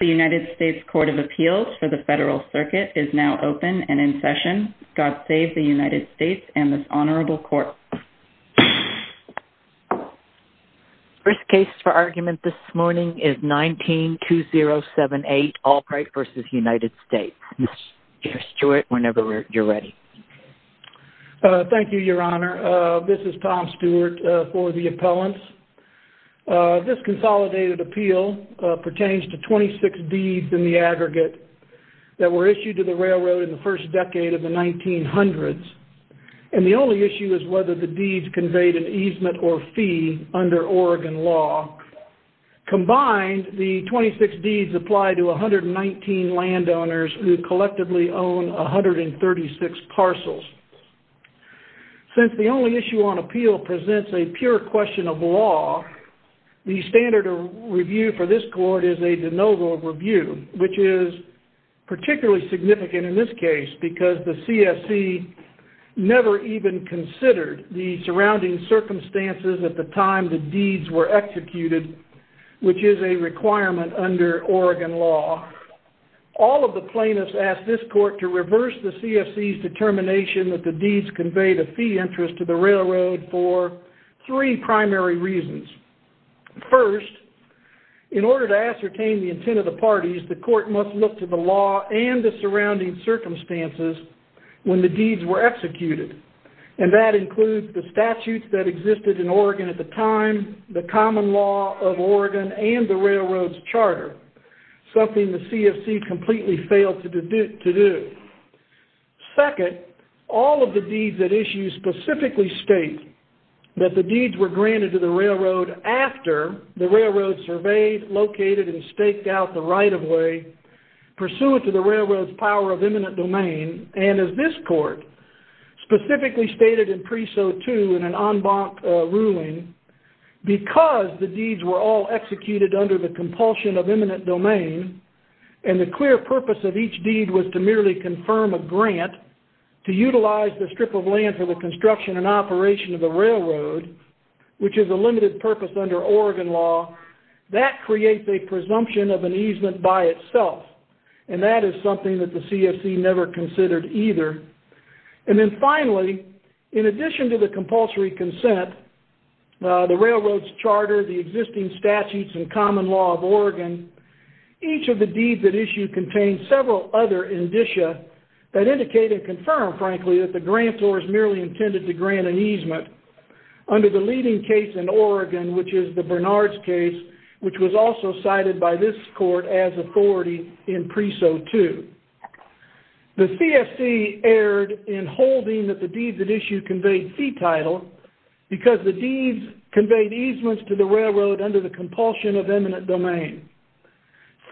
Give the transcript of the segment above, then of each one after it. The United States Court of Appeals for the Federal Circuit is now open and in session. God save the United States and this Honorable Court. First case for argument this morning is 192078 Albright v. United States. Mr. Stewart, whenever you're ready. Thank you, Your Honor. This is Tom Stewart for the appellants. This consolidated appeal pertains to 26 deeds in the aggregate that were issued to the railroad in the first decade of the 1900s. And the only issue is whether the deeds conveyed an easement or fee under Oregon law. Combined, the 26 deeds apply to 119 landowners who collectively own 136 parcels. Since the only issue on appeal presents a pure question of law, the standard of review for this court is a de novo review, which is particularly significant in this case because the CFC never even considered the surrounding circumstances at the time the deeds were executed, which is a requirement under Oregon law. All of the plaintiffs asked this court to reverse the CFC's determination that the deeds conveyed a fee interest to the railroad for three primary reasons. First, in order to ascertain the intent of the parties, the court must look to the law and the surrounding circumstances when the deeds were executed. And that includes the statutes that existed in Oregon at the time, the common law of Oregon, and the railroad's charter, something the CFC completely failed to do. Second, all of the deeds at issue specifically state that the deeds were granted to the railroad after the railroad surveyed, located, and staked out the right-of-way pursuant to the railroad's power of eminent domain. And as this court specifically stated in Preso 2 in an en banc ruling, because the deeds were all executed under the compulsion of eminent domain, and the clear purpose of each deed was to merely confirm a grant to utilize the strip of land for the construction and operation of the railroad, which is a limited purpose under Oregon law, that creates a presumption of an easement by itself. And that is something that the CFC never considered either. And then finally, in addition to the compulsory consent, the railroad's charter, the existing statutes and common law of Oregon, each of the deeds at issue contain several other indicia that indicate and confirm, frankly, that the grant was merely intended to grant an easement. Under the leading case in Oregon, which is the Bernard's case, which was also cited by this court as authority in Preso 2, the CFC erred in holding that the deeds at issue conveyed fee title because the deeds conveyed easements to the railroad under the compulsion of eminent domain.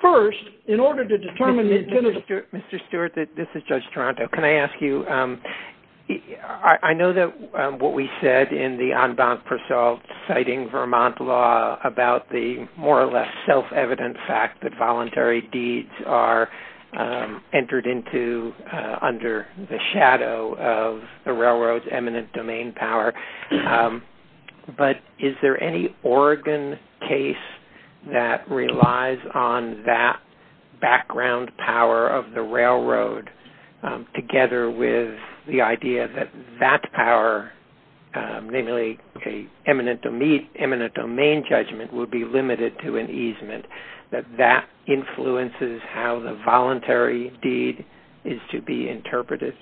First, in order to determine... Mr. Stewart, this is Judge Toronto. Can I ask you, I know that what we said in the en banc preso citing Vermont law about the more or less self-evident fact that voluntary deeds are entered into under the shadow of the railroad's eminent domain power. But is there any Oregon case that relies on that background power of the railroad together with the idea that that power, namely eminent domain judgment, would be limited to an easement, that that influences how the voluntary deed is to be interpreted?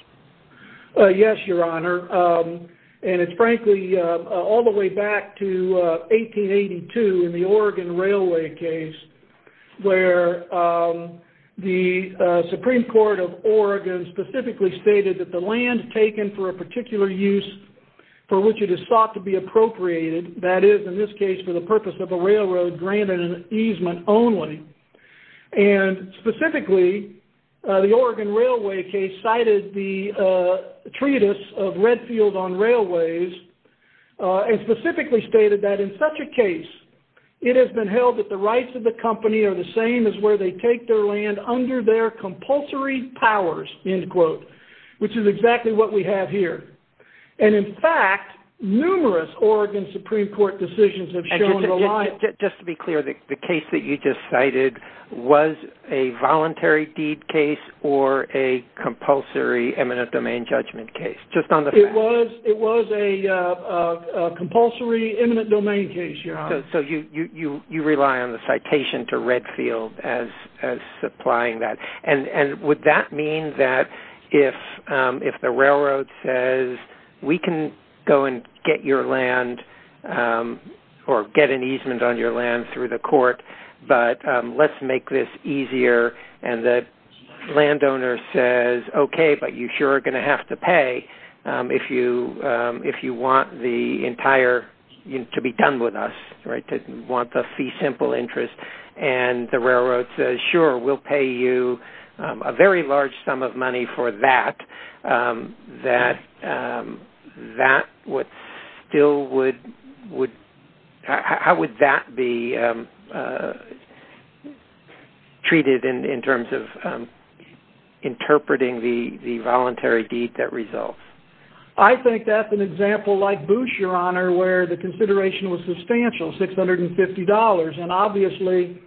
Yes, Your Honor. And it's, frankly, all the way back to 1882 in the Oregon Railway case, where the Supreme Court of Oregon specifically stated that the land taken for a particular use for which it is thought to be appropriated, that is, in this case, for the purpose of a railroad, granted an easement only. And specifically, the Oregon Railway case cited the treatise of Redfield on Railways, and specifically stated that, in such a case, it has been held that the rights of the company are the same as where they take their land under their compulsory powers, end quote, which is exactly what we have here. And, in fact, numerous Oregon Supreme Court decisions have shown... Just to be clear, the case that you just cited was a voluntary deed case or a compulsory eminent domain judgment case, just on the facts? It was a compulsory eminent domain case, Your Honor. So you rely on the citation to Redfield as supplying that. And would that mean that if the railroad says, we can go and get your land or get an easement on your land through the court, but let's make this easier, and the landowner says, okay, but you sure are going to have to pay if you want the entire... to be done with us, right, to want the fee simple interest, and the railroad says, sure, we'll pay you a very large sum of money for that, that still would... how would that be treated in terms of interpreting the voluntary deed that results? I think that's an example like Boosh, Your Honor, where the consideration was substantial, $650, and obviously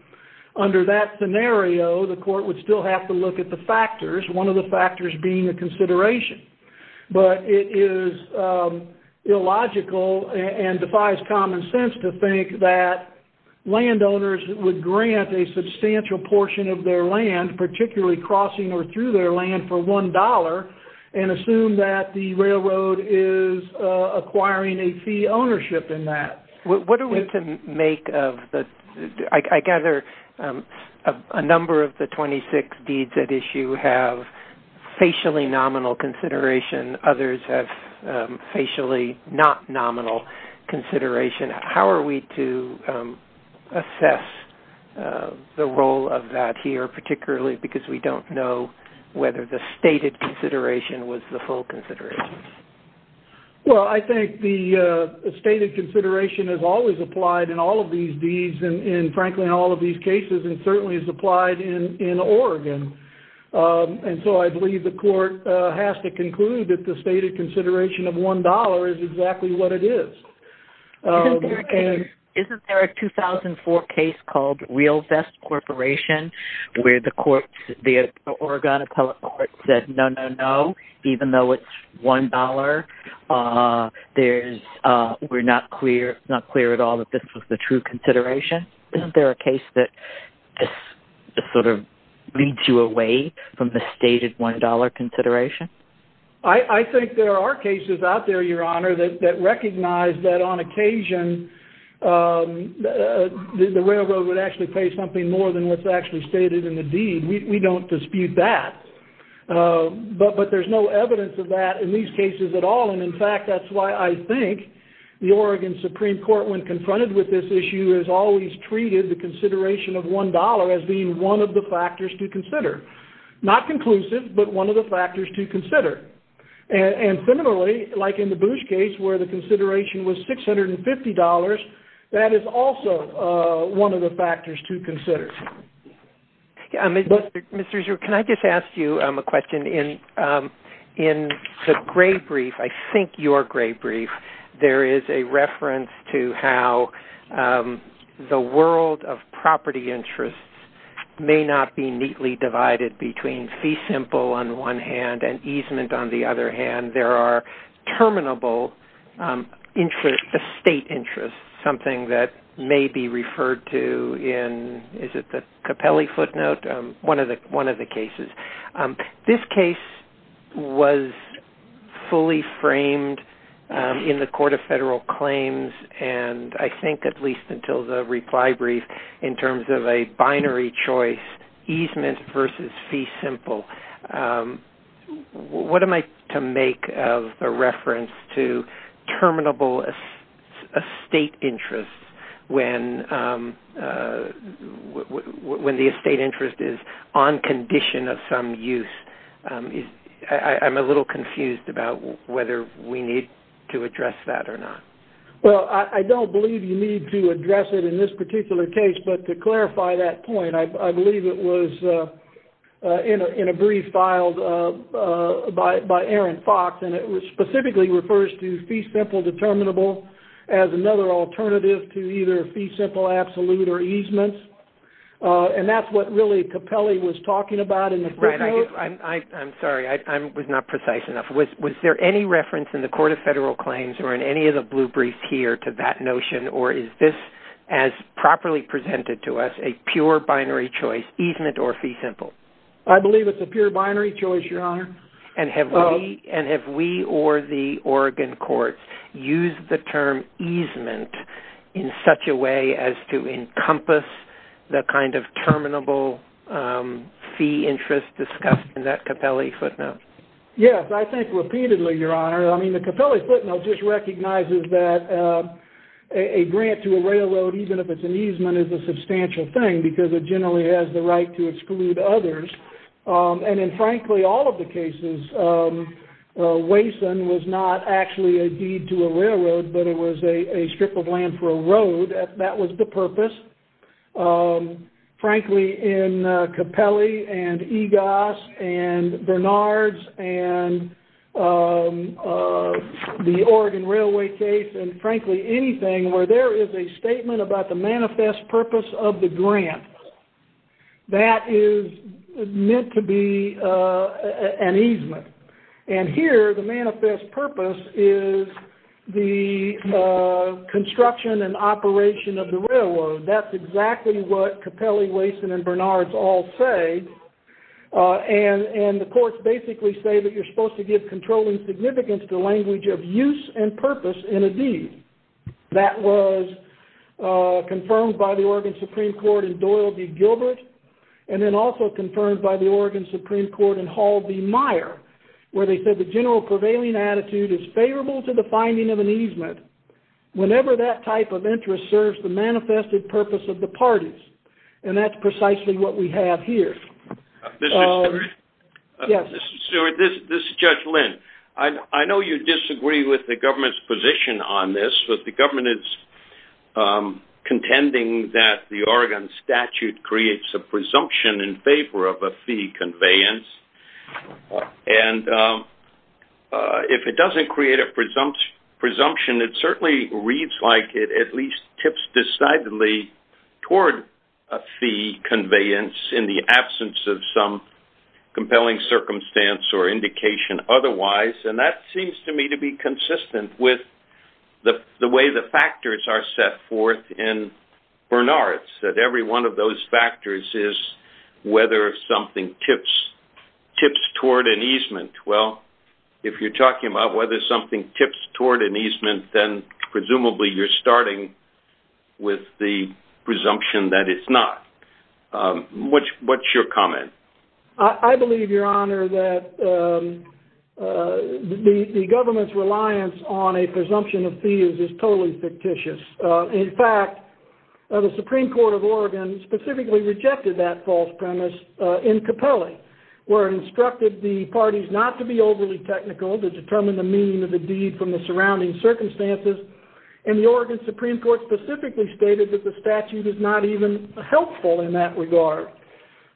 under that scenario, the court would still have to look at the factors, one of the factors being a consideration. But it is illogical and defies common sense to think that landowners would grant a substantial portion of their land, particularly crossing or through their land, for $1 and assume that the railroad is acquiring a fee ownership in that. What are we to make of the... I gather a number of the 26 deeds at issue have facially nominal consideration, others have facially not nominal consideration. How are we to assess the role of that here, particularly because we don't know whether the stated consideration was the full consideration? Well, I think the stated consideration is always applied in all of these deeds, and frankly in all of these cases, and certainly is applied in Oregon. And so I believe the court has to conclude that the stated consideration of $1 is exactly what it is. Isn't there a 2004 case called Real Vest Corporation where the Oregon Appellate Court said no, no, no, even though it's $1, we're not clear at all that this was the true consideration? Isn't there a case that this sort of leads you away from the stated $1 consideration? I think there are cases out there, Your Honor, that recognize that on occasion the railroad would actually pay something more than what's actually stated in the deed. We don't dispute that. But there's no evidence of that in these cases at all, and in fact that's why I think the Oregon Supreme Court when confronted with this issue has always treated the consideration of $1 as being one of the factors to consider. Not conclusive, but one of the factors to consider. And similarly, like in the Boosh case where the consideration was $650, that is also one of the factors to consider. Mr. Zhu, can I just ask you a question? In the gray brief, I think your gray brief, there is a reference to how the world of property interests may not be neatly divided between fee simple on one hand and easement on the other hand. There are terminable estate interests, something that may be referred to in, is it the Capelli footnote? One of the cases. This case was fully framed in the Court of Federal Claims, and I think at least until the reply brief, in terms of a binary choice, easement versus fee simple. What am I to make of the reference to terminable estate interests when the estate interest is on condition of some use? I'm a little confused about whether we need to address that or not. Well, I don't believe you need to address it in this particular case, but to clarify that point, I believe it was in a brief filed by Aaron Fox, and it specifically refers to fee simple determinable as another alternative to either fee simple absolute or easement, and that's what really Capelli was talking about in the footnote. I'm sorry, I was not precise enough. Was there any reference in the Court of Federal Claims or in any of the blue briefs here to that notion, or is this as properly presented to us a pure binary choice, easement or fee simple? I believe it's a pure binary choice, Your Honor. And have we or the Oregon courts used the term easement in such a way as to encompass the kind of terminable fee interest discussed in that Capelli footnote? Yes, I think repeatedly, Your Honor. I mean, the Capelli footnote just recognizes that a grant to a railroad, even if it's an easement, is a substantial thing because it generally has the right to exclude others. And in frankly all of the cases, Waysan was not actually a deed to a railroad, but it was a strip of land for a road. That was the purpose. Frankly, in Capelli and EGOS and Bernard's and the Oregon Railway case and frankly anything where there is a statement about the manifest purpose of the grant, that is meant to be an easement. And here the manifest purpose is the construction and operation of the railroad. That's exactly what Capelli, Waysan, and Bernard's all say. And the courts basically say that you're supposed to give controlling significance to the language of use and purpose in a deed. That was confirmed by the Oregon Supreme Court in Doyle v. Gilbert and then also confirmed by the Oregon Supreme Court in Hall v. Meyer where they said the general prevailing attitude is favorable to the finding of an easement. Whenever that type of interest serves the manifested purpose of the parties and that's precisely what we have here. This is Judge Lynn. I know you disagree with the government's position on this, but the government is contending that the Oregon statute creates a presumption in favor of a fee conveyance. And if it doesn't create a presumption, it certainly reads like it at least tips decidedly toward a fee conveyance in the absence of some compelling circumstance or indication otherwise. And that seems to me to be consistent with the way the factors are set forth in Bernard's, that every one of those factors is whether something tips toward an easement. Well, if you're talking about whether something tips toward an easement, then presumably you're starting with the presumption that it's not. What's your comment? I believe, Your Honor, that the government's reliance on a presumption of fees is totally fictitious. In fact, the Supreme Court of Oregon specifically rejected that false premise in Capelli where it instructed the parties not to be overly technical to determine the meaning of the deed from the surrounding circumstances, and the Oregon Supreme Court specifically stated that the statute is not even helpful in that regard.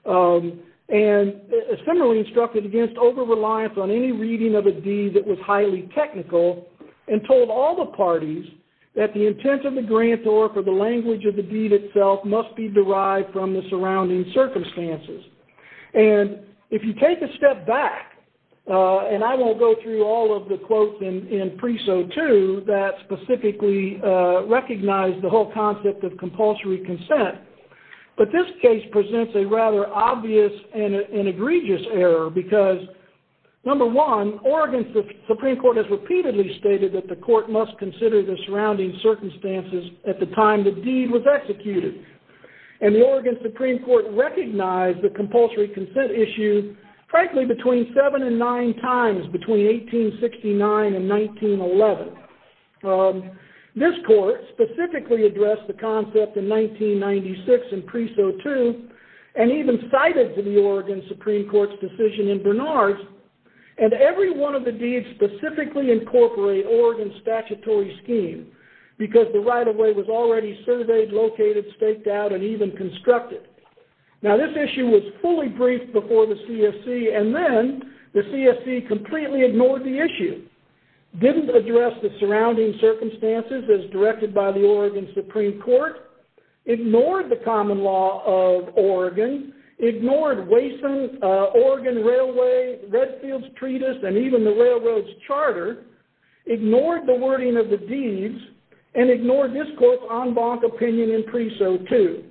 And similarly instructed against over-reliance on any reading of a deed that was highly technical and told all the parties that the intent of the grant or for the language of the deed itself must be derived from the surrounding circumstances. And if you take a step back, and I won't go through all of the quotes in Preso 2 that specifically recognize the whole concept of compulsory consent, but this case presents a rather obvious and egregious error because, number one, Oregon Supreme Court has repeatedly stated that the court must consider the surrounding circumstances at the time the deed was executed. And the Oregon Supreme Court recognized the compulsory consent issue, frankly, between seven and nine times between 1869 and 1911. This court specifically addressed the concept in 1996 in Preso 2 and even cited the Oregon Supreme Court's decision in Bernard's and every one of the deeds specifically incorporate Oregon's statutory scheme because the right-of-way was already surveyed, located, staked out, and even constructed. Now this issue was fully briefed before the CFC, and then the CFC completely ignored the issue, didn't address the surrounding circumstances as directed by the Oregon Supreme Court, ignored the common law of Oregon, ignored Wayson, Oregon Railway, Redfield's treatise, and even the railroad's charter, ignored the wording of the deeds, and ignored this court's en banc opinion in Preso 2.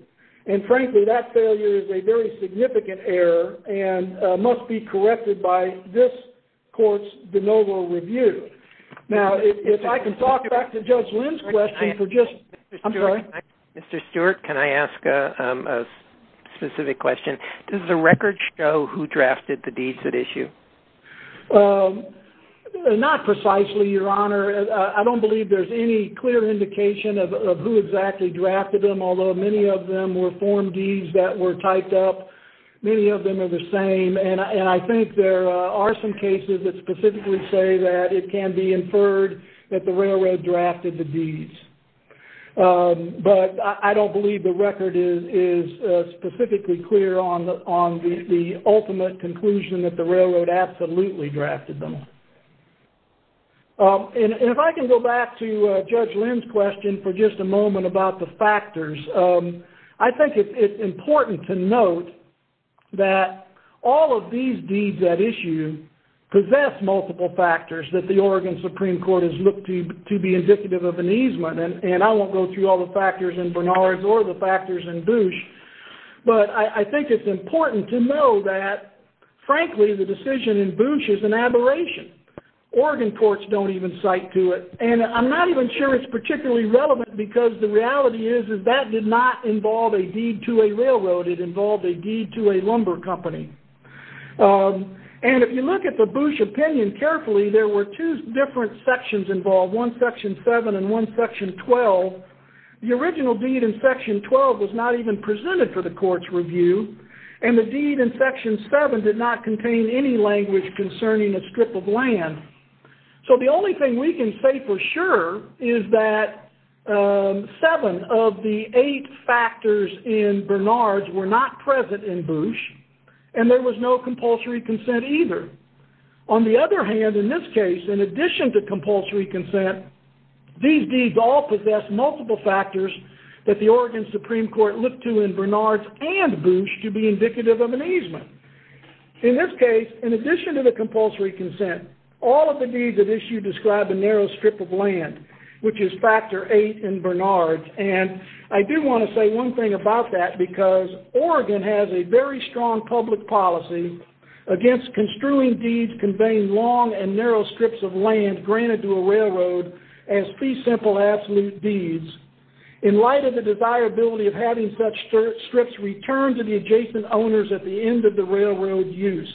And frankly, that failure is a very significant error and must be corrected by this court's de novo review. Now if I can talk back to Judge Lynn's question for just... I'm sorry. Mr. Stewart, can I ask a specific question? Does the record show who drafted the deeds at issue? Not precisely, Your Honor. I don't believe there's any clear indication of who exactly drafted them, although many of them were Form Ds that were typed up. Many of them are the same. And I think there are some cases that specifically say that it can be inferred that the railroad drafted the deeds. But I don't believe the record is specifically clear on the ultimate conclusion that the railroad absolutely drafted them. And if I can go back to Judge Lynn's question for just a moment about the factors, I think it's important to note that all of these deeds at issue possess multiple factors that the Oregon Supreme Court has looked to to be indicative of an easement. And I won't go through all the factors in Bernard's or the factors in Bouche. But I think it's important to know that, frankly, the decision in Bouche is an aberration. Oregon courts don't even cite to it. And I'm not even sure it's particularly relevant because the reality is that that did not involve a deed to a railroad. It involved a deed to a lumber company. And if you look at the Bouche opinion carefully, there were two different sections involved, one Section 7 and one Section 12. The original deed in Section 12 was not even presented for the court's review, and the deed in Section 7 did not contain any language concerning a strip of land. So the only thing we can say for sure is that seven of the eight factors in Bernard's were not present in Bouche, and there was no compulsory consent either. On the other hand, in this case, in addition to compulsory consent, these deeds all possess multiple factors that the Oregon Supreme Court looked to in Bernard's and Bouche to be indicative of an easement. In this case, in addition to the compulsory consent, all of the deeds at issue describe a narrow strip of land, which is Factor 8 in Bernard's. And I do want to say one thing about that because Oregon has a very strong public policy against construing deeds conveying long and narrow strips of land granted to a railroad as fee-simple absolute deeds. In light of the desirability of having such strips return to the adjacent owners at the end of the railroad use,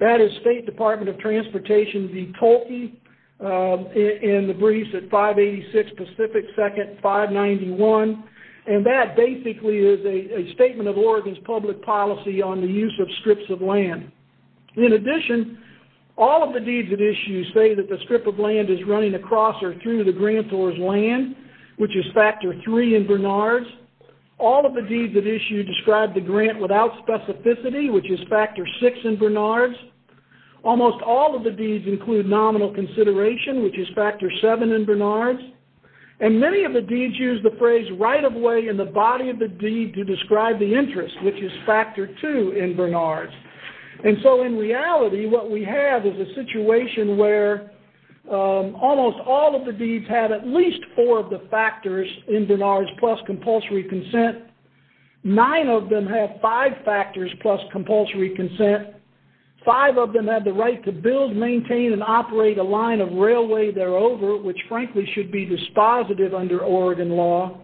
that is State Department of Transportation v. Tolke in the briefs at 586 Pacific 2nd 591, and that basically is a statement of Oregon's public policy on the use of strips of land. In addition, all of the deeds at issue say that the strip of land is running across or through the grantor's land, which is Factor 3 in Bernard's. All of the deeds at issue describe the grant without specificity, which is Factor 6 in Bernard's. Almost all of the deeds include nominal consideration, which is Factor 7 in Bernard's. And many of the deeds use the phrase right-of-way in the body of the deed to describe the interest, which is Factor 2 in Bernard's. And so in reality, what we have is a situation where almost all of the deeds have at least four of the factors in Bernard's plus compulsory consent. Nine of them have five factors plus compulsory consent. Five of them have the right to build, maintain, and operate a line of railway thereover, which frankly should be dispositive under Oregon law.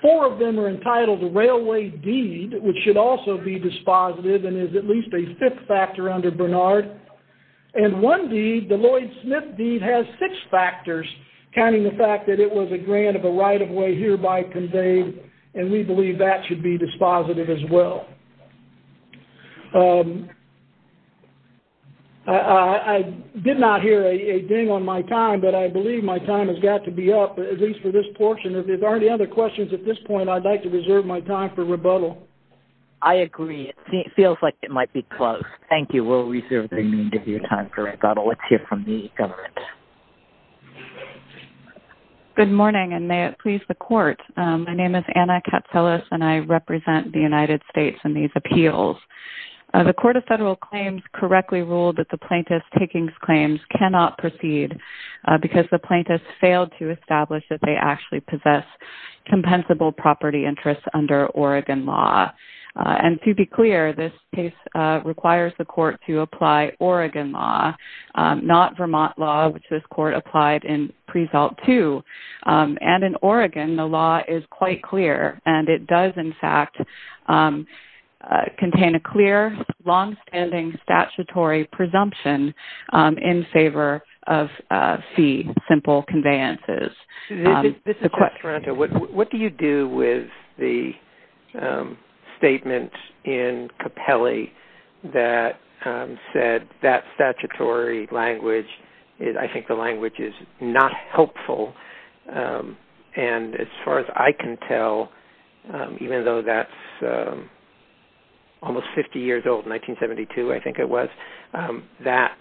Four of them are entitled to railway deed, which should also be dispositive and is at least a fifth factor under Bernard. And one deed, the Lloyd Smith deed, has six factors, counting the fact that it was a grant of a right-of-way hereby conveyed, and we believe that should be dispositive as well. I did not hear a ding on my time, but I believe my time has got to be up, at least for this portion. If there aren't any other questions at this point, I'd like to reserve my time for rebuttal. I agree. It feels like it might be closed. Thank you. We'll reserve the need of your time for rebuttal. Let's hear from the government. Good morning, and may it please the Court. My name is Anna Katselis, and I represent the United States in these appeals. The Court of Federal Claims correctly ruled that the plaintiff's takings claims cannot proceed because the plaintiffs failed to establish that they actually possess compensable property interests under Oregon law. And to be clear, this case requires the Court to apply Oregon law, not Vermont law, which this Court applied in pre-salt 2. And in Oregon, the law is quite clear, and it does in fact contain a clear, long-standing statutory presumption in favor of fee-simple conveyances. This is Jeff Toronto. What do you do with the statement in Capelli that said that statutory language, I think the language is not helpful. And as far as I can tell, even though that's almost 50 years old, 1972 I think it was, that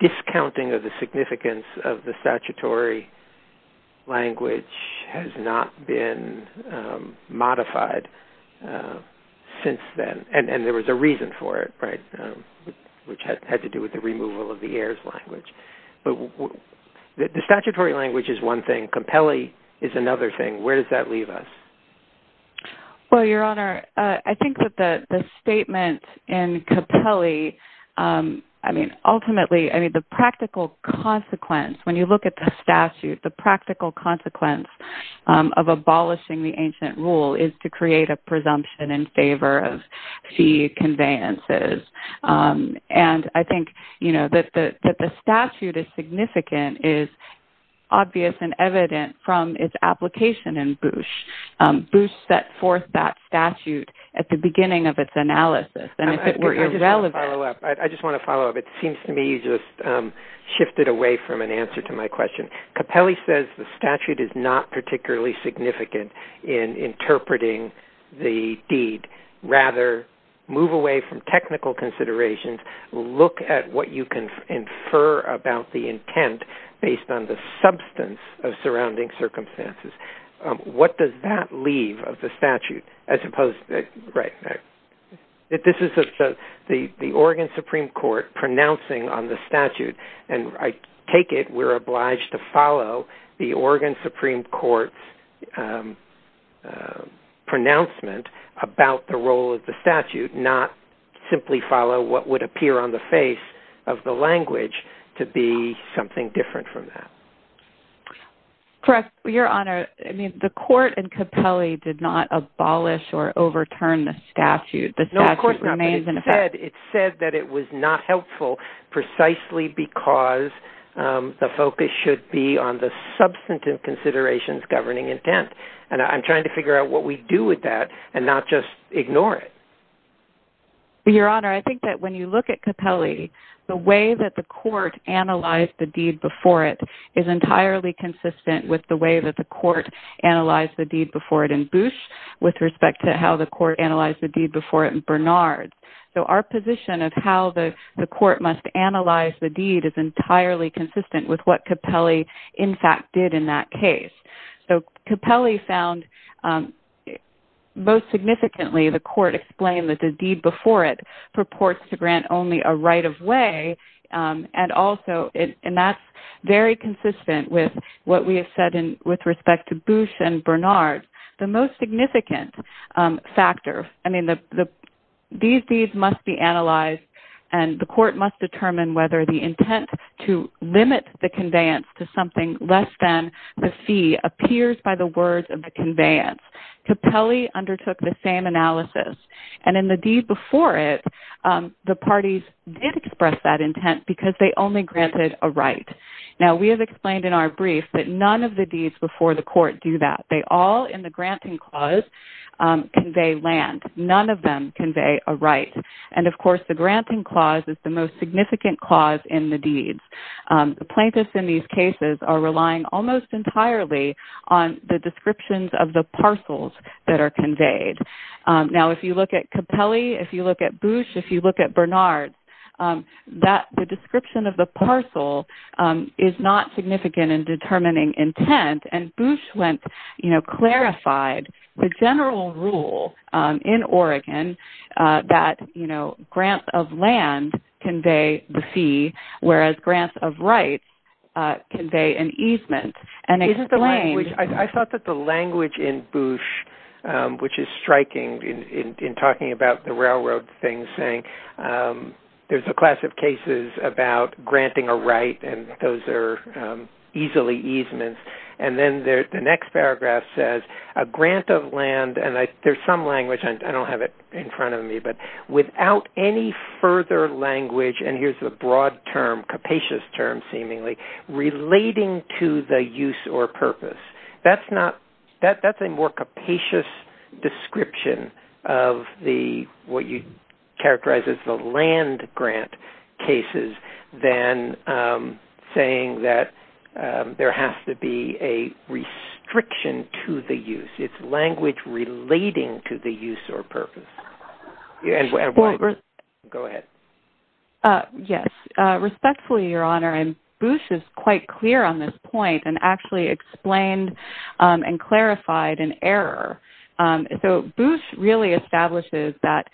discounting of the significance of the statutory language has not been modified since then. And there was a reason for it, right, which had to do with the removal of the heirs language. But the statutory language is one thing. Capelli is another thing. Where does that leave us? Well, Your Honor, I think that the statement in Capelli, I mean, ultimately, I mean, the practical consequence, when you look at the statute, the practical consequence of abolishing the ancient rule is to create a presumption in favor of fee conveyances. And I think, you know, that the statute is significant, is obvious and evident from its application in Boosh. Boosh set forth that statute at the beginning of its analysis. And if it were irrelevant. I just want to follow up. It seems to me you just shifted away from an answer to my question. Capelli says the statute is not particularly significant in interpreting the deed. Rather, move away from technical considerations. Look at what you can infer about the intent based on the substance of surrounding circumstances. What does that leave of the statute? As opposed to, right, this is the Oregon Supreme Court pronouncing on the statute. And I take it we're obliged to follow the Oregon Supreme Court's pronouncement about the role of the statute, not simply follow what would appear on the face of the language to be something different from that. Correct, Your Honor. I mean, the court in Capelli did not abolish or overturn the statute. The statute remains in effect. Instead, it said that it was not helpful precisely because the focus should be on the substantive considerations governing intent. And I'm trying to figure out what we do with that and not just ignore it. Your Honor, I think that when you look at Capelli, the way that the court analyzed the deed before it is entirely consistent with the way that the court analyzed the deed before it in Boosh with respect to how the court analyzed the deed before it in Bernard. So our position of how the court must analyze the deed is entirely consistent with what Capelli, in fact, did in that case. So Capelli found most significantly the court explained that the deed before it purports to grant only a right of way. And also, and that's very consistent with what we have said with respect to Boosh and Bernard. The most significant factor, I mean, these deeds must be analyzed and the court must determine whether the intent to limit the conveyance to something less than the fee appears by the words of the conveyance. Capelli undertook the same analysis. And in the deed before it, the parties did express that intent because they only granted a right. Now, we have explained in our brief that none of the deeds before the court do that. They all, in the granting clause, convey land. None of them convey a right. And, of course, the granting clause is the most significant clause in the deeds. The plaintiffs in these cases are relying almost entirely on the descriptions of the parcels that are conveyed. Now, if you look at Capelli, if you look at Boosh, if you look at Bernard, the description of the parcel is not significant in determining intent. And Boosh went, you know, clarified the general rule in Oregon that, you know, grants of land convey the fee, whereas grants of rights convey an easement. I thought that the language in Boosh, which is striking in talking about the railroad thing, saying there's a class of cases about granting a right and those are easily easements. And then the next paragraph says, a grant of land, and there's some language. I don't have it in front of me. But without any further language, and here's the broad term, capacious term, seemingly, relating to the use or purpose. That's a more capacious description of what you'd characterize as the land grant cases than saying that there has to be a restriction to the use. It's language relating to the use or purpose. Go ahead. Yes. Respectfully, Your Honor, and Boosh is quite clear on this point and actually explained and clarified an error. So Boosh really establishes that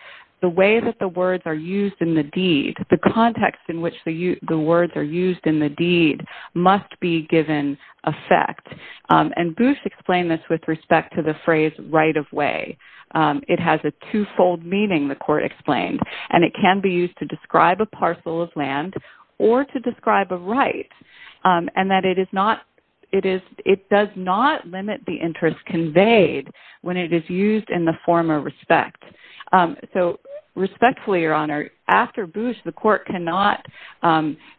the way that the words are used in the deed, the context in which the words are used in the deed must be given effect. And Boosh explained this with respect to the phrase right of way. It has a twofold meaning, the court explained, and it can be used to describe a parcel of land or to describe a right and that it does not limit the interest conveyed when it is used in the form of respect. So respectfully, Your Honor, after Boosh, the court cannot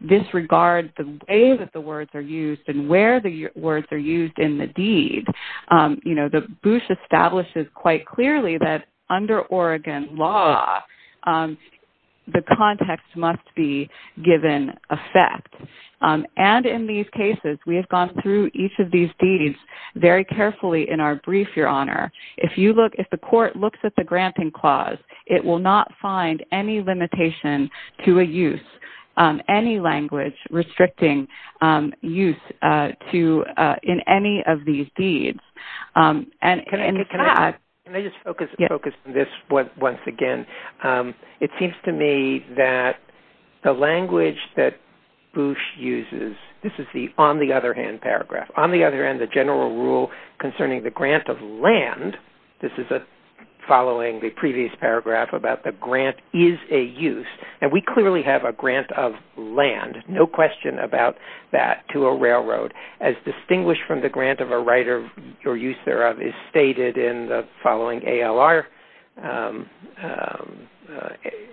disregard the way that the words are used and where the words are used in the deed. Boosh establishes quite clearly that under Oregon law, the context must be given effect. And in these cases, we have gone through each of these deeds very carefully in our brief, Your Honor. If the court looks at the granting clause, it will not find any limitation to a use, any language restricting use in any of these deeds. Can I just focus on this once again? It seems to me that the language that Boosh uses, this is the on the other hand paragraph. On the other hand, the general rule concerning the grant of land, this is following the previous paragraph about the grant is a use. And we clearly have a grant of land, no question about that, to a railroad. As distinguished from the grant of a right or use thereof is stated in the following ALR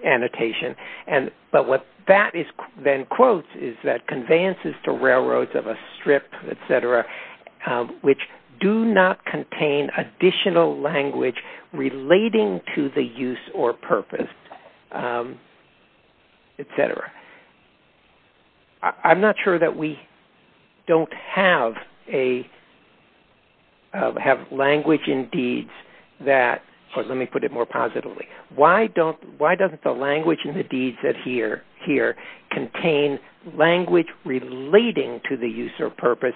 annotation. But what that then quotes is that conveyances to railroads of a strip, etc., which do not contain additional language relating to the use or purpose, etc. I'm not sure that we don't have language in deeds that, or let me put it more positively, why doesn't the language in the deeds here contain language relating to the use or purpose,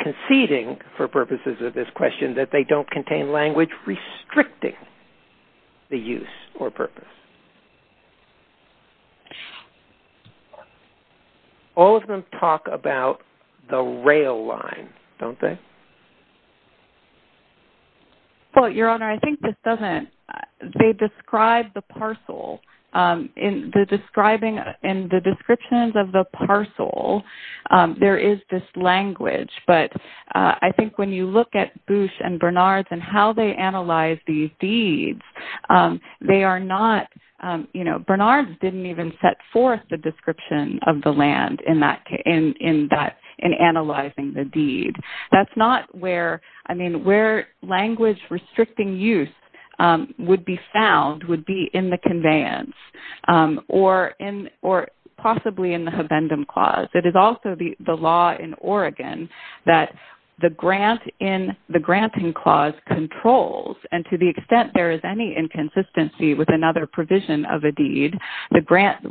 conceding for purposes of this question that they don't contain language restricting the use or purpose? All of them talk about the rail line, don't they? Well, Your Honor, I think this doesn't, they describe the parcel. In the descriptions of the parcel, there is this language. But I think when you look at Boosh and Bernard's and how they analyze these deeds, they are not, you know, Bernard didn't even set forth the description of the land in analyzing the deed. That's not where, I mean, where language restricting use would be found, would be in the conveyance, or possibly in the Habendum Clause. It is also the law in Oregon that the grant in the Granting Clause controls. And to the extent there is any inconsistency with another provision of a deed,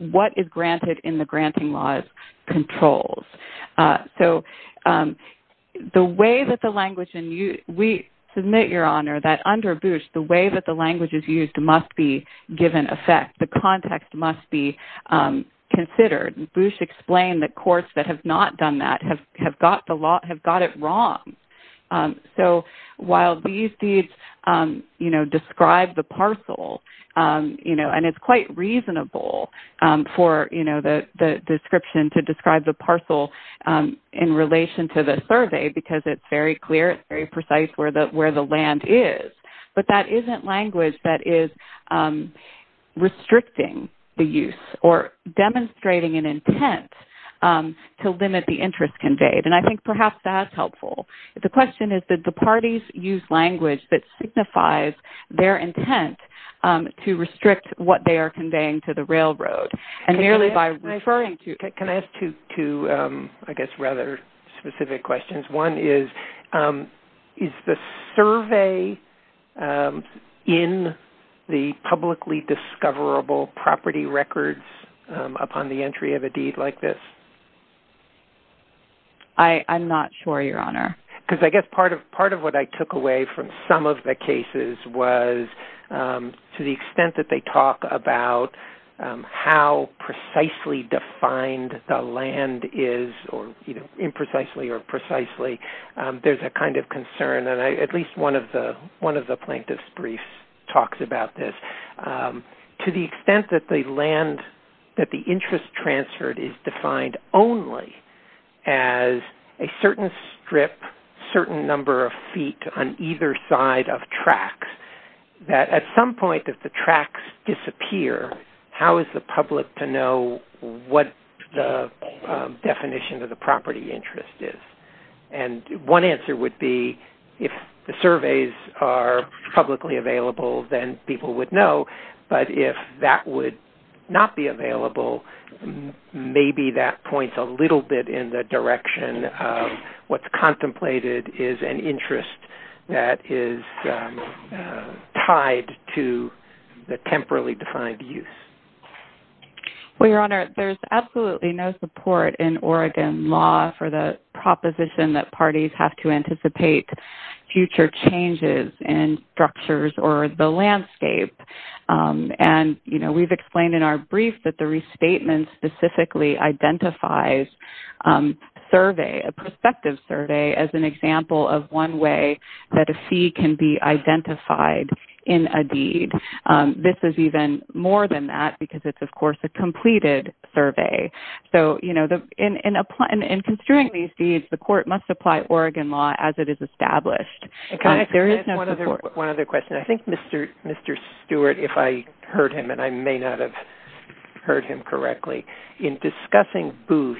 what is granted in the Granting Clause controls. So, the way that the language, and we submit, Your Honor, that under Boosh, the way that the language is used must be given effect. The context must be considered. Boosh explained that courts that have not done that have got it wrong. So, while these deeds, you know, describe the parcel, you know, and it's quite reasonable for, you know, the description to describe the parcel in relation to the survey because it's very clear, it's very precise where the land is. But that isn't language that is restricting the use or demonstrating an intent to limit the interest conveyed. And I think perhaps that's helpful. The question is that the parties use language that signifies their intent to restrict what they are conveying to the railroad. And merely by referring to... Can I ask two, I guess, rather specific questions? One is, is the survey in the publicly discoverable property records upon the entry of a deed like this? I'm not sure, Your Honor. Because I guess part of what I took away from some of the cases was to the extent that they talk about how precisely defined the land is, or, you know, imprecisely or precisely, there's a kind of concern. And at least one of the plaintiffs' briefs talks about this. To the extent that the land, that the interest transferred is defined only as a certain strip, certain number of feet on either side of tracks, that at some point if the tracks disappear, how is the public to know what the definition of the property interest is? And one answer would be if the surveys are publicly available, then people would know. But if that would not be available, maybe that points a little bit in the direction of what's contemplated is an interest that is tied to the temporally defined use. Well, Your Honor, there's absolutely no support in Oregon law for the proposition that parties have to anticipate future changes in structures or the landscape. And, you know, we've explained in our brief that the restatement specifically identifies survey, a prospective survey, as an example of one way that a fee can be identified in a deed. This is even more than that because it's, of course, a completed survey. So, you know, in construing these deeds, the court must apply Oregon law as it is established. One other question. I think Mr. Stewart, if I heard him, and I may not have heard him correctly, in discussing Boosh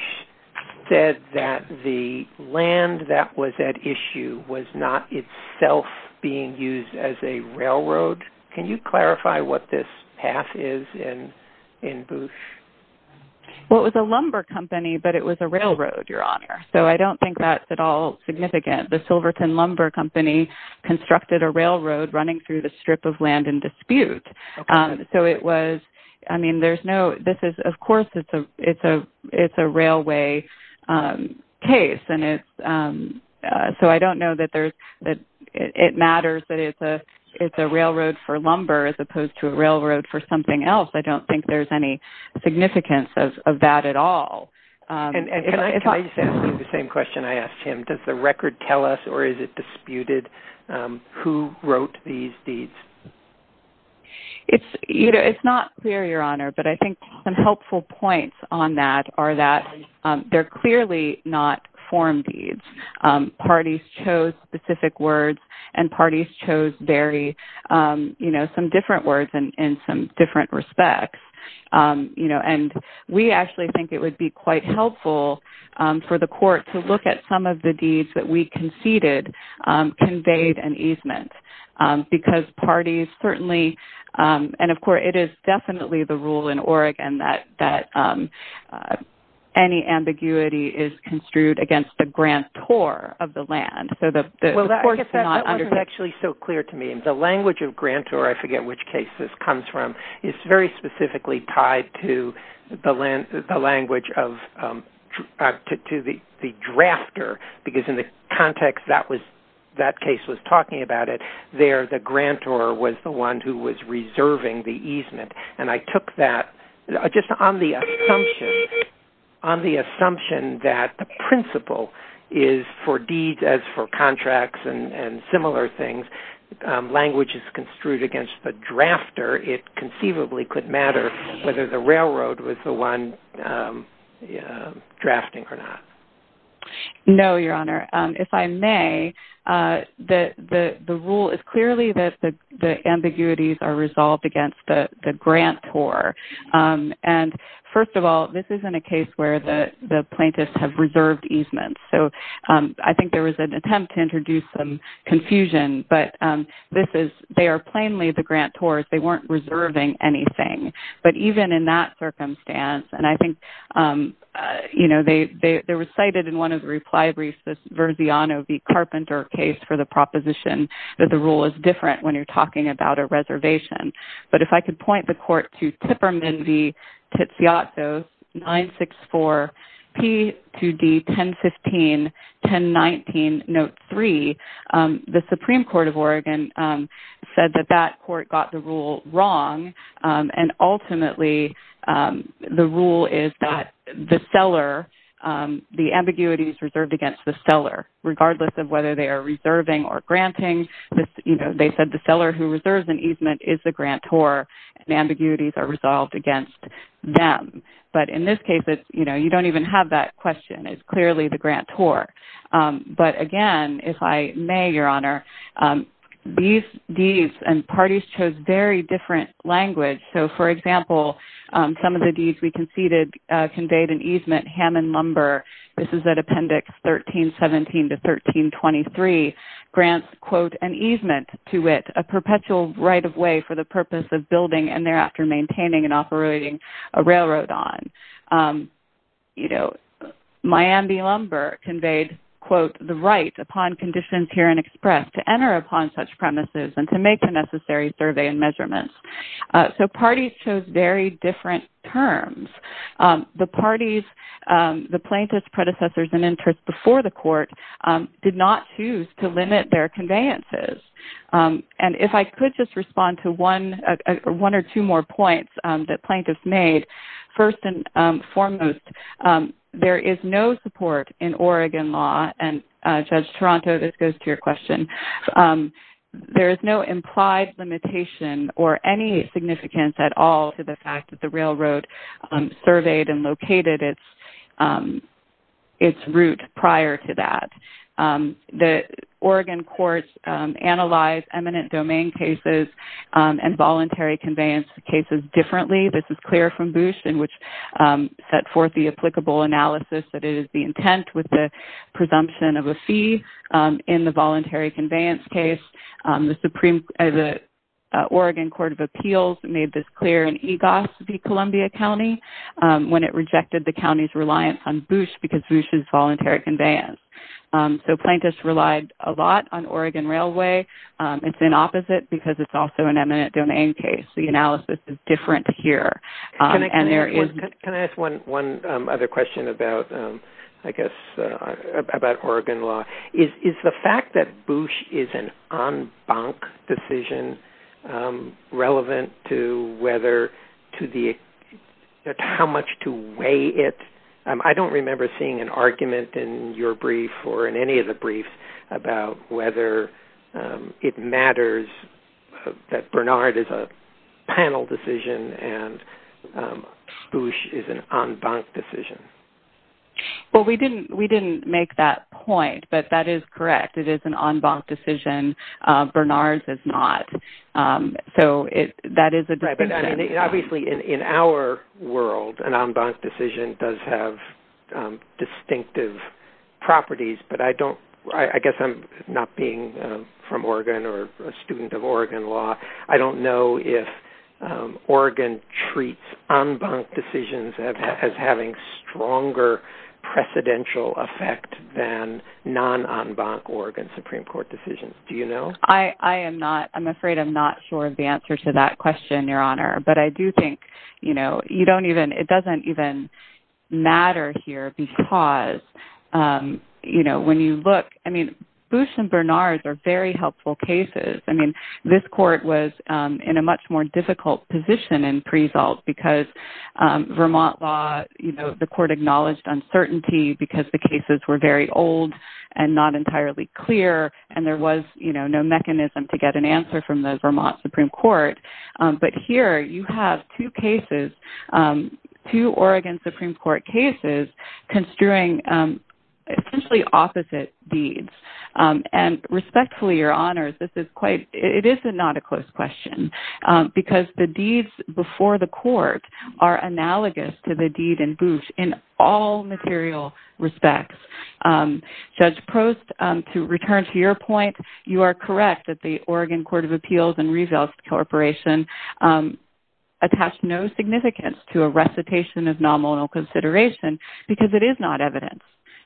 said that the land that was at issue was not itself being used as a railroad. Can you clarify what this path is in Boosh? Well, it was a lumber company, but it was a railroad, Your Honor. So I don't think that's at all significant. The Silverton Lumber Company constructed a railroad running through the strip of land in dispute. So it was, I mean, there's no, this is, of course, it's a railway case. So I don't know that it matters that it's a railroad for lumber as opposed to a railroad for something else. I don't think there's any significance of that at all. Can I just ask you the same question I asked him? Does the record tell us or is it disputed who wrote these deeds? It's not clear, Your Honor, but I think some helpful points on that are that they're clearly not form deeds. Parties chose specific words and parties chose very, you know, some different words in some different respects. And we actually think it would be quite helpful for the court to look at some of the deeds that we conceded conveyed an easement because parties certainly, and of course, it is definitely the rule in Oregon that any ambiguity is construed against the grantor of the land. Well, that wasn't actually so clear to me. The language of grantor, I forget which case this comes from, is very specifically tied to the language of the drafter because in the context that case was talking about it, there the grantor was the one who was reserving the easement. And I took that just on the assumption that the principle is for deeds as for contracts and similar things. Language is construed against the drafter. It conceivably could matter whether the railroad was the one drafting or not. No, Your Honor. If I may, the rule is clearly that the ambiguities are resolved against the grantor. And first of all, this isn't a case where the plaintiffs have reserved easements. So I think there was an attempt to introduce some confusion, but they are plainly the grantors. They weren't reserving anything. But even in that circumstance, and I think they were cited in one of the reply briefs, this Verziano v. Carpenter case for the proposition that the rule is different when you're talking about a reservation. But if I could point the court to Tipperman v. Tiziotto, 964 P2D 1015-1019, Note 3, the Supreme Court of Oregon said that that court got the rule wrong. And ultimately, the rule is that the seller, the ambiguity is reserved against the seller, regardless of whether they are reserving or granting. They said the seller who reserves an easement is the grantor. The ambiguities are resolved against them. But in this case, you don't even have that question. It's clearly the grantor. But again, if I may, Your Honor, these deeds and parties chose very different language. So for example, some of the deeds we conceded conveyed an easement, Hammond Lumber. This is at Appendix 1317 to 1323. Grants, quote, an easement to it, a perpetual right of way for the purpose of building and thereafter maintaining and operating a railroad on. You know, Miami Lumber conveyed, quote, the right upon conditions here in express to enter upon such premises and to make the necessary survey and measurements. So parties chose very different terms. The parties, the plaintiff's predecessors and interests before the court did not choose to limit their conveyances. And if I could just respond to one or two more points that plaintiffs made. First and foremost, there is no support in Oregon law. And Judge Toronto, this goes to your question. There is no implied limitation or any significance at all to the fact that the railroad surveyed and located its route prior to that. The Oregon courts analyzed eminent domain cases and voluntary conveyance cases differently. This is clear from Boosh in which set forth the applicable analysis that it is the intent with the presumption of a fee in the voluntary conveyance case. The Oregon Court of Appeals made this clear in EGOS v. Columbia County when it rejected the county's reliance on Boosh because Boosh is voluntary conveyance. So plaintiffs relied a lot on Oregon Railway. It's an opposite because it's also an eminent domain case. The analysis is different here. And there is... Can I ask one other question about, I guess, about Oregon law? Is the fact that Boosh is an en banc decision relevant to how much to weigh it? I don't remember seeing an argument in your brief or in any of the briefs about whether it matters that Bernard is a panel decision and Boosh is an en banc decision. Well, we didn't make that point, but that is correct. It is an en banc decision. Bernard's is not. So that is a... Right. But, I mean, obviously, in our world, an en banc decision does have distinctive properties. But I don't... I guess I'm not being from Oregon or a student of Oregon law. I don't know if Oregon treats en banc decisions as having stronger precedential effect than non-en banc Oregon Supreme Court decisions. Do you know? I am not. I'm afraid I'm not sure of the answer to that question, Your Honor. But I do think, you know, you don't even... It doesn't even matter here because, you know, when you look... I mean, Boosh and Bernard are very helpful cases. I mean, this court was in a much more difficult position in pre-salt because Vermont law, you know, the court acknowledged uncertainty because the cases were very old and not entirely clear and there was, you know, no mechanism to get an answer from the Vermont Supreme Court. But here, you have two cases, two Oregon Supreme Court cases construing essentially opposite deeds. And respectfully, Your Honors, this is quite... It is not a close question because the deeds before the court are analogous to the deed in Boosh in all material respects. Judge Prost, to return to your point, you are correct that the Oregon Court of Appeals and Reveals Corporation attached no significance to a recitation of nominal consideration because it is not evidence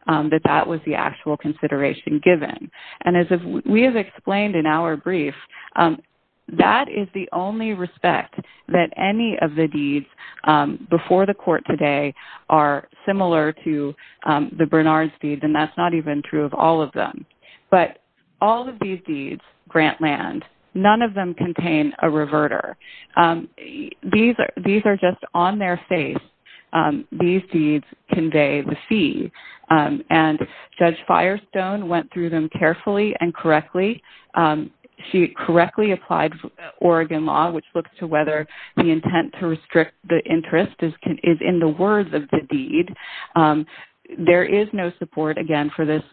that that was the actual consideration given. And as we have explained in our brief, that is the only respect that any of the deeds before the court today are similar to the Bernard's deeds and that's not even true of all of them. But all of these deeds grant land. None of them contain a reverter. These are just on their face. These deeds convey the fee. And Judge Firestone went through them carefully and correctly. She correctly applied Oregon law which looks to whether the intent to restrict the interest is in the words of the deed. There is no support, again, for this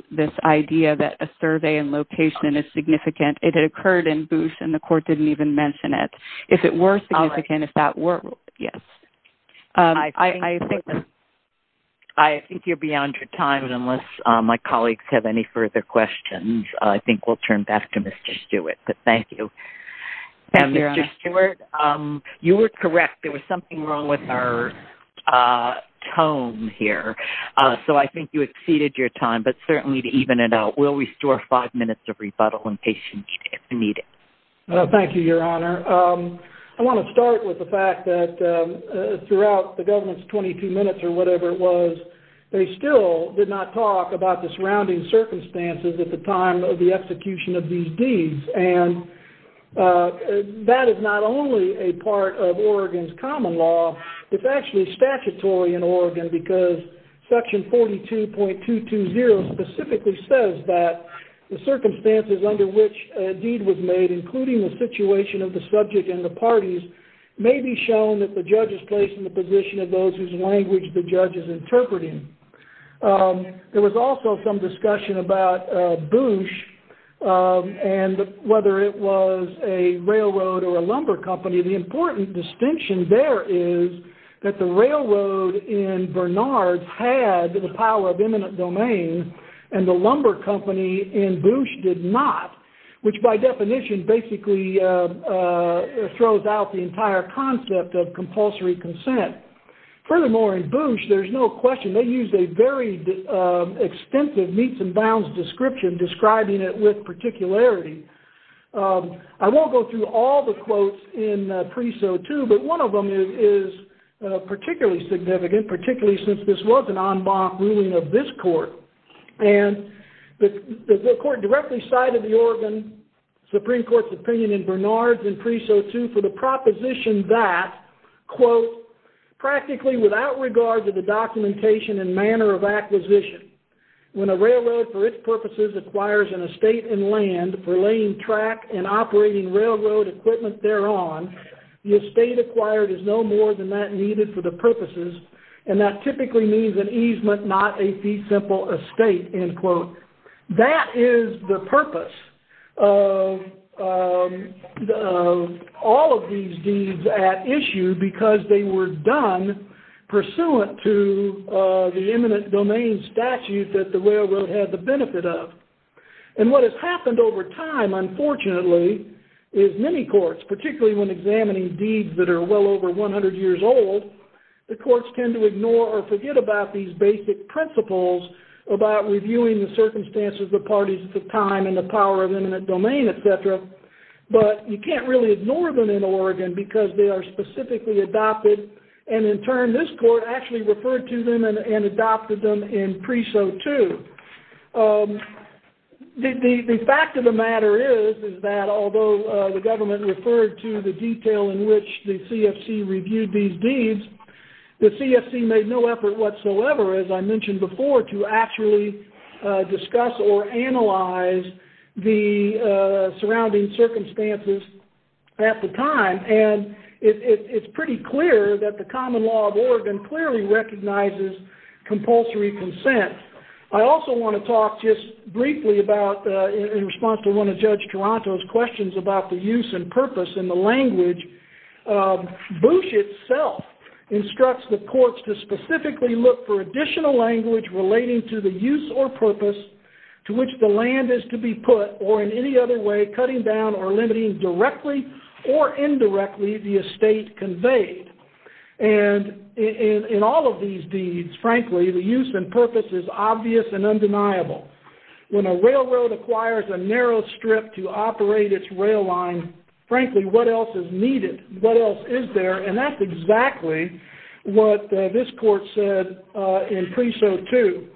idea that a survey and location is significant. It had occurred in Boosh and the court didn't even mention it. If it were significant, if that were, yes. I think you're beyond your time unless my colleagues have any further questions. I think we'll turn back to Mr. Stewart, but thank you. Thank you, Your Honor. And Mr. Stewart, you were correct. There was something wrong with our tone here. So I think you exceeded your time, but certainly to even it out, we'll restore five minutes of rebuttal and patience if needed. Thank you, Your Honor. I want to start with the fact that throughout the government's 22 minutes or whatever it was, they still did not talk about the surrounding circumstances at the time of the execution of these deeds. And that is not only a part of Oregon's common law. It's actually statutory in Oregon because Section 42.220 specifically says that the circumstances under which a deed was made, including the situation of the subject and the parties, may be shown that the judge is placed in the position of those whose language the judge is interpreting. There was also some discussion about Boosh and whether it was a railroad or a lumber company. The important distinction there is that the railroad in Bernard's had the power of imminent domain and the lumber company in Boosh did not, which by definition basically throws out the entire concept of compulsory consent. Furthermore, in Boosh, there's no question they used a very extensive meets and bounds description describing it with particularity. I won't go through all the quotes in Preso 2, but one of them is particularly significant, particularly since this was an en banc ruling of this court. And the court directly cited the Oregon Supreme Court's opinion in Bernard's in Preso 2 for the proposition that, quote, practically without regard to the documentation and manner of acquisition, when a railroad for its purposes acquires an estate and land for laying track and operating railroad equipment thereon, the estate acquired is no more than that needed for the purposes, and that typically means an easement, not a fee simple estate, end quote. That is the purpose of all of these deeds at issue because they were done pursuant to the imminent domain statute that the railroad had the benefit of. And what has happened over time, unfortunately, is many courts, particularly when examining deeds that are well over 100 years old, the courts tend to ignore or forget about these circumstances, the parties at the time, and the power of imminent domain, et cetera. But you can't really ignore them in Oregon because they are specifically adopted, and in turn, this court actually referred to them and adopted them in Preso 2. The fact of the matter is that although the government referred to the detail in which the CFC reviewed these deeds, the CFC made no effort whatsoever, as I mentioned before, to actually discuss or analyze the surrounding circumstances at the time. And it's pretty clear that the common law of Oregon clearly recognizes compulsory consent. I also want to talk just briefly about, in response to one of Judge Toronto's questions about the use and purpose and the language, Bush itself instructs the courts to specifically look for additional language relating to the use or purpose to which the land is to be put, or in any other way, cutting down or limiting directly or indirectly the estate conveyed. And in all of these deeds, frankly, the use and purpose is obvious and undeniable. When a railroad acquires a narrow strip to operate its rail line, frankly, what else is needed? What else is there? And that's exactly what this court said in Preso 2.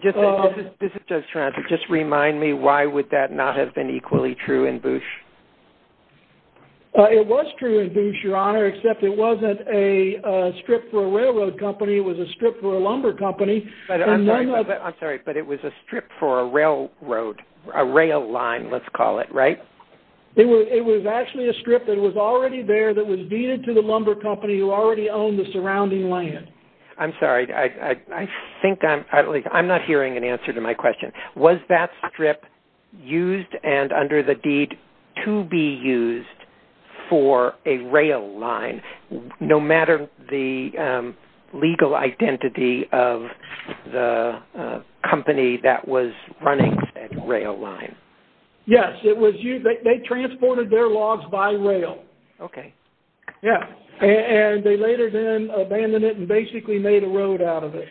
This is Judge Toronto. Just remind me, why would that not have been equally true in Bush? It was true in Bush, Your Honor, except it wasn't a strip for a railroad company. It was a strip for a lumber company. I'm sorry, but it was a strip for a railroad, a rail line, let's call it, right? It was actually a strip that was already there that was deeded to the lumber company who already owned the surrounding land. I'm sorry, I think I'm not hearing an answer to my question. Was that strip used and under the deed to be used for a rail line, no matter the legal identity of the company that was running that rail line? Yes, it was used. They transported their logs by rail. Okay. Yeah, and they later then abandoned it and basically made a road out of it.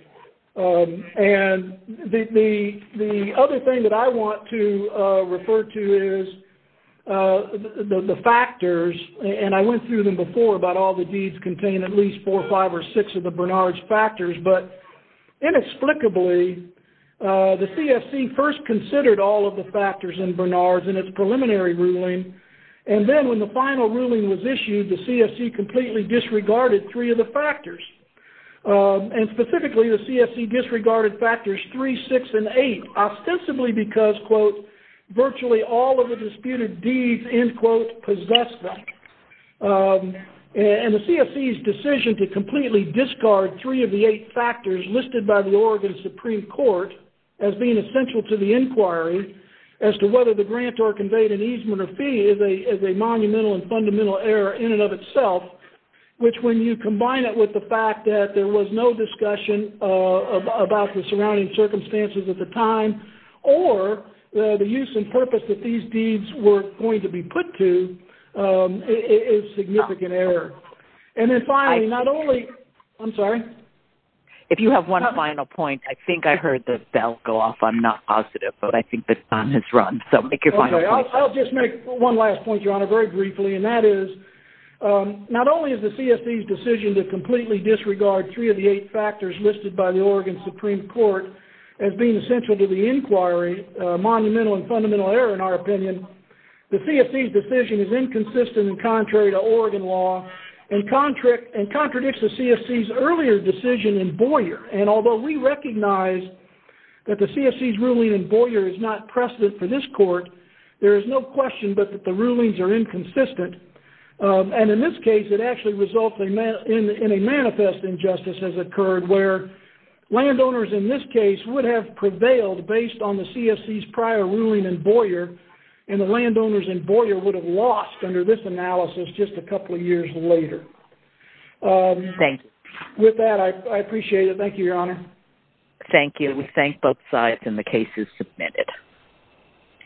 And the other thing that I want to refer to is the factors, and I went through them before about all the deeds contain at least four, five, or six of the Bernard's factors, but inexplicably, the CFC first considered all of the factors in Bernard's in its preliminary ruling, and then when the final ruling was issued, the CFC completely disregarded three of the factors, and specifically, the CFC disregarded factors three, six, and eight, ostensibly because, quote, virtually all of the disputed deeds, end quote, possessed them. And the CFC's decision to completely discard three of the eight factors listed by the Oregon Supreme Court as being essential to the inquiry as to whether the grantor conveyed an easement or fee is a monumental and fundamental error in and of itself, which when you combine it with the fact that there was no discussion about the surrounding circumstances at the And then finally, not only... I'm sorry. If you have one final point, I think I heard the bell go off. I'm not positive, but I think the time has run, so make your final point. Okay, I'll just make one last point, Your Honor, very briefly, and that is not only is the CFC's decision to completely disregard three of the eight factors listed by the Oregon Supreme Court as being essential to the inquiry a monumental and fundamental error in our law and contradicts the CFC's earlier decision in Boyer. And although we recognize that the CFC's ruling in Boyer is not precedent for this court, there is no question but that the rulings are inconsistent. And in this case, it actually results in a manifest injustice has occurred where landowners in this case would have prevailed based on the CFC's prior ruling in Boyer, and the landowners in Boyer would have lost under this analysis just a couple of years later. Thanks. With that, I appreciate it. Thank you, Your Honor. Thank you. We thank both sides, and the case is submitted.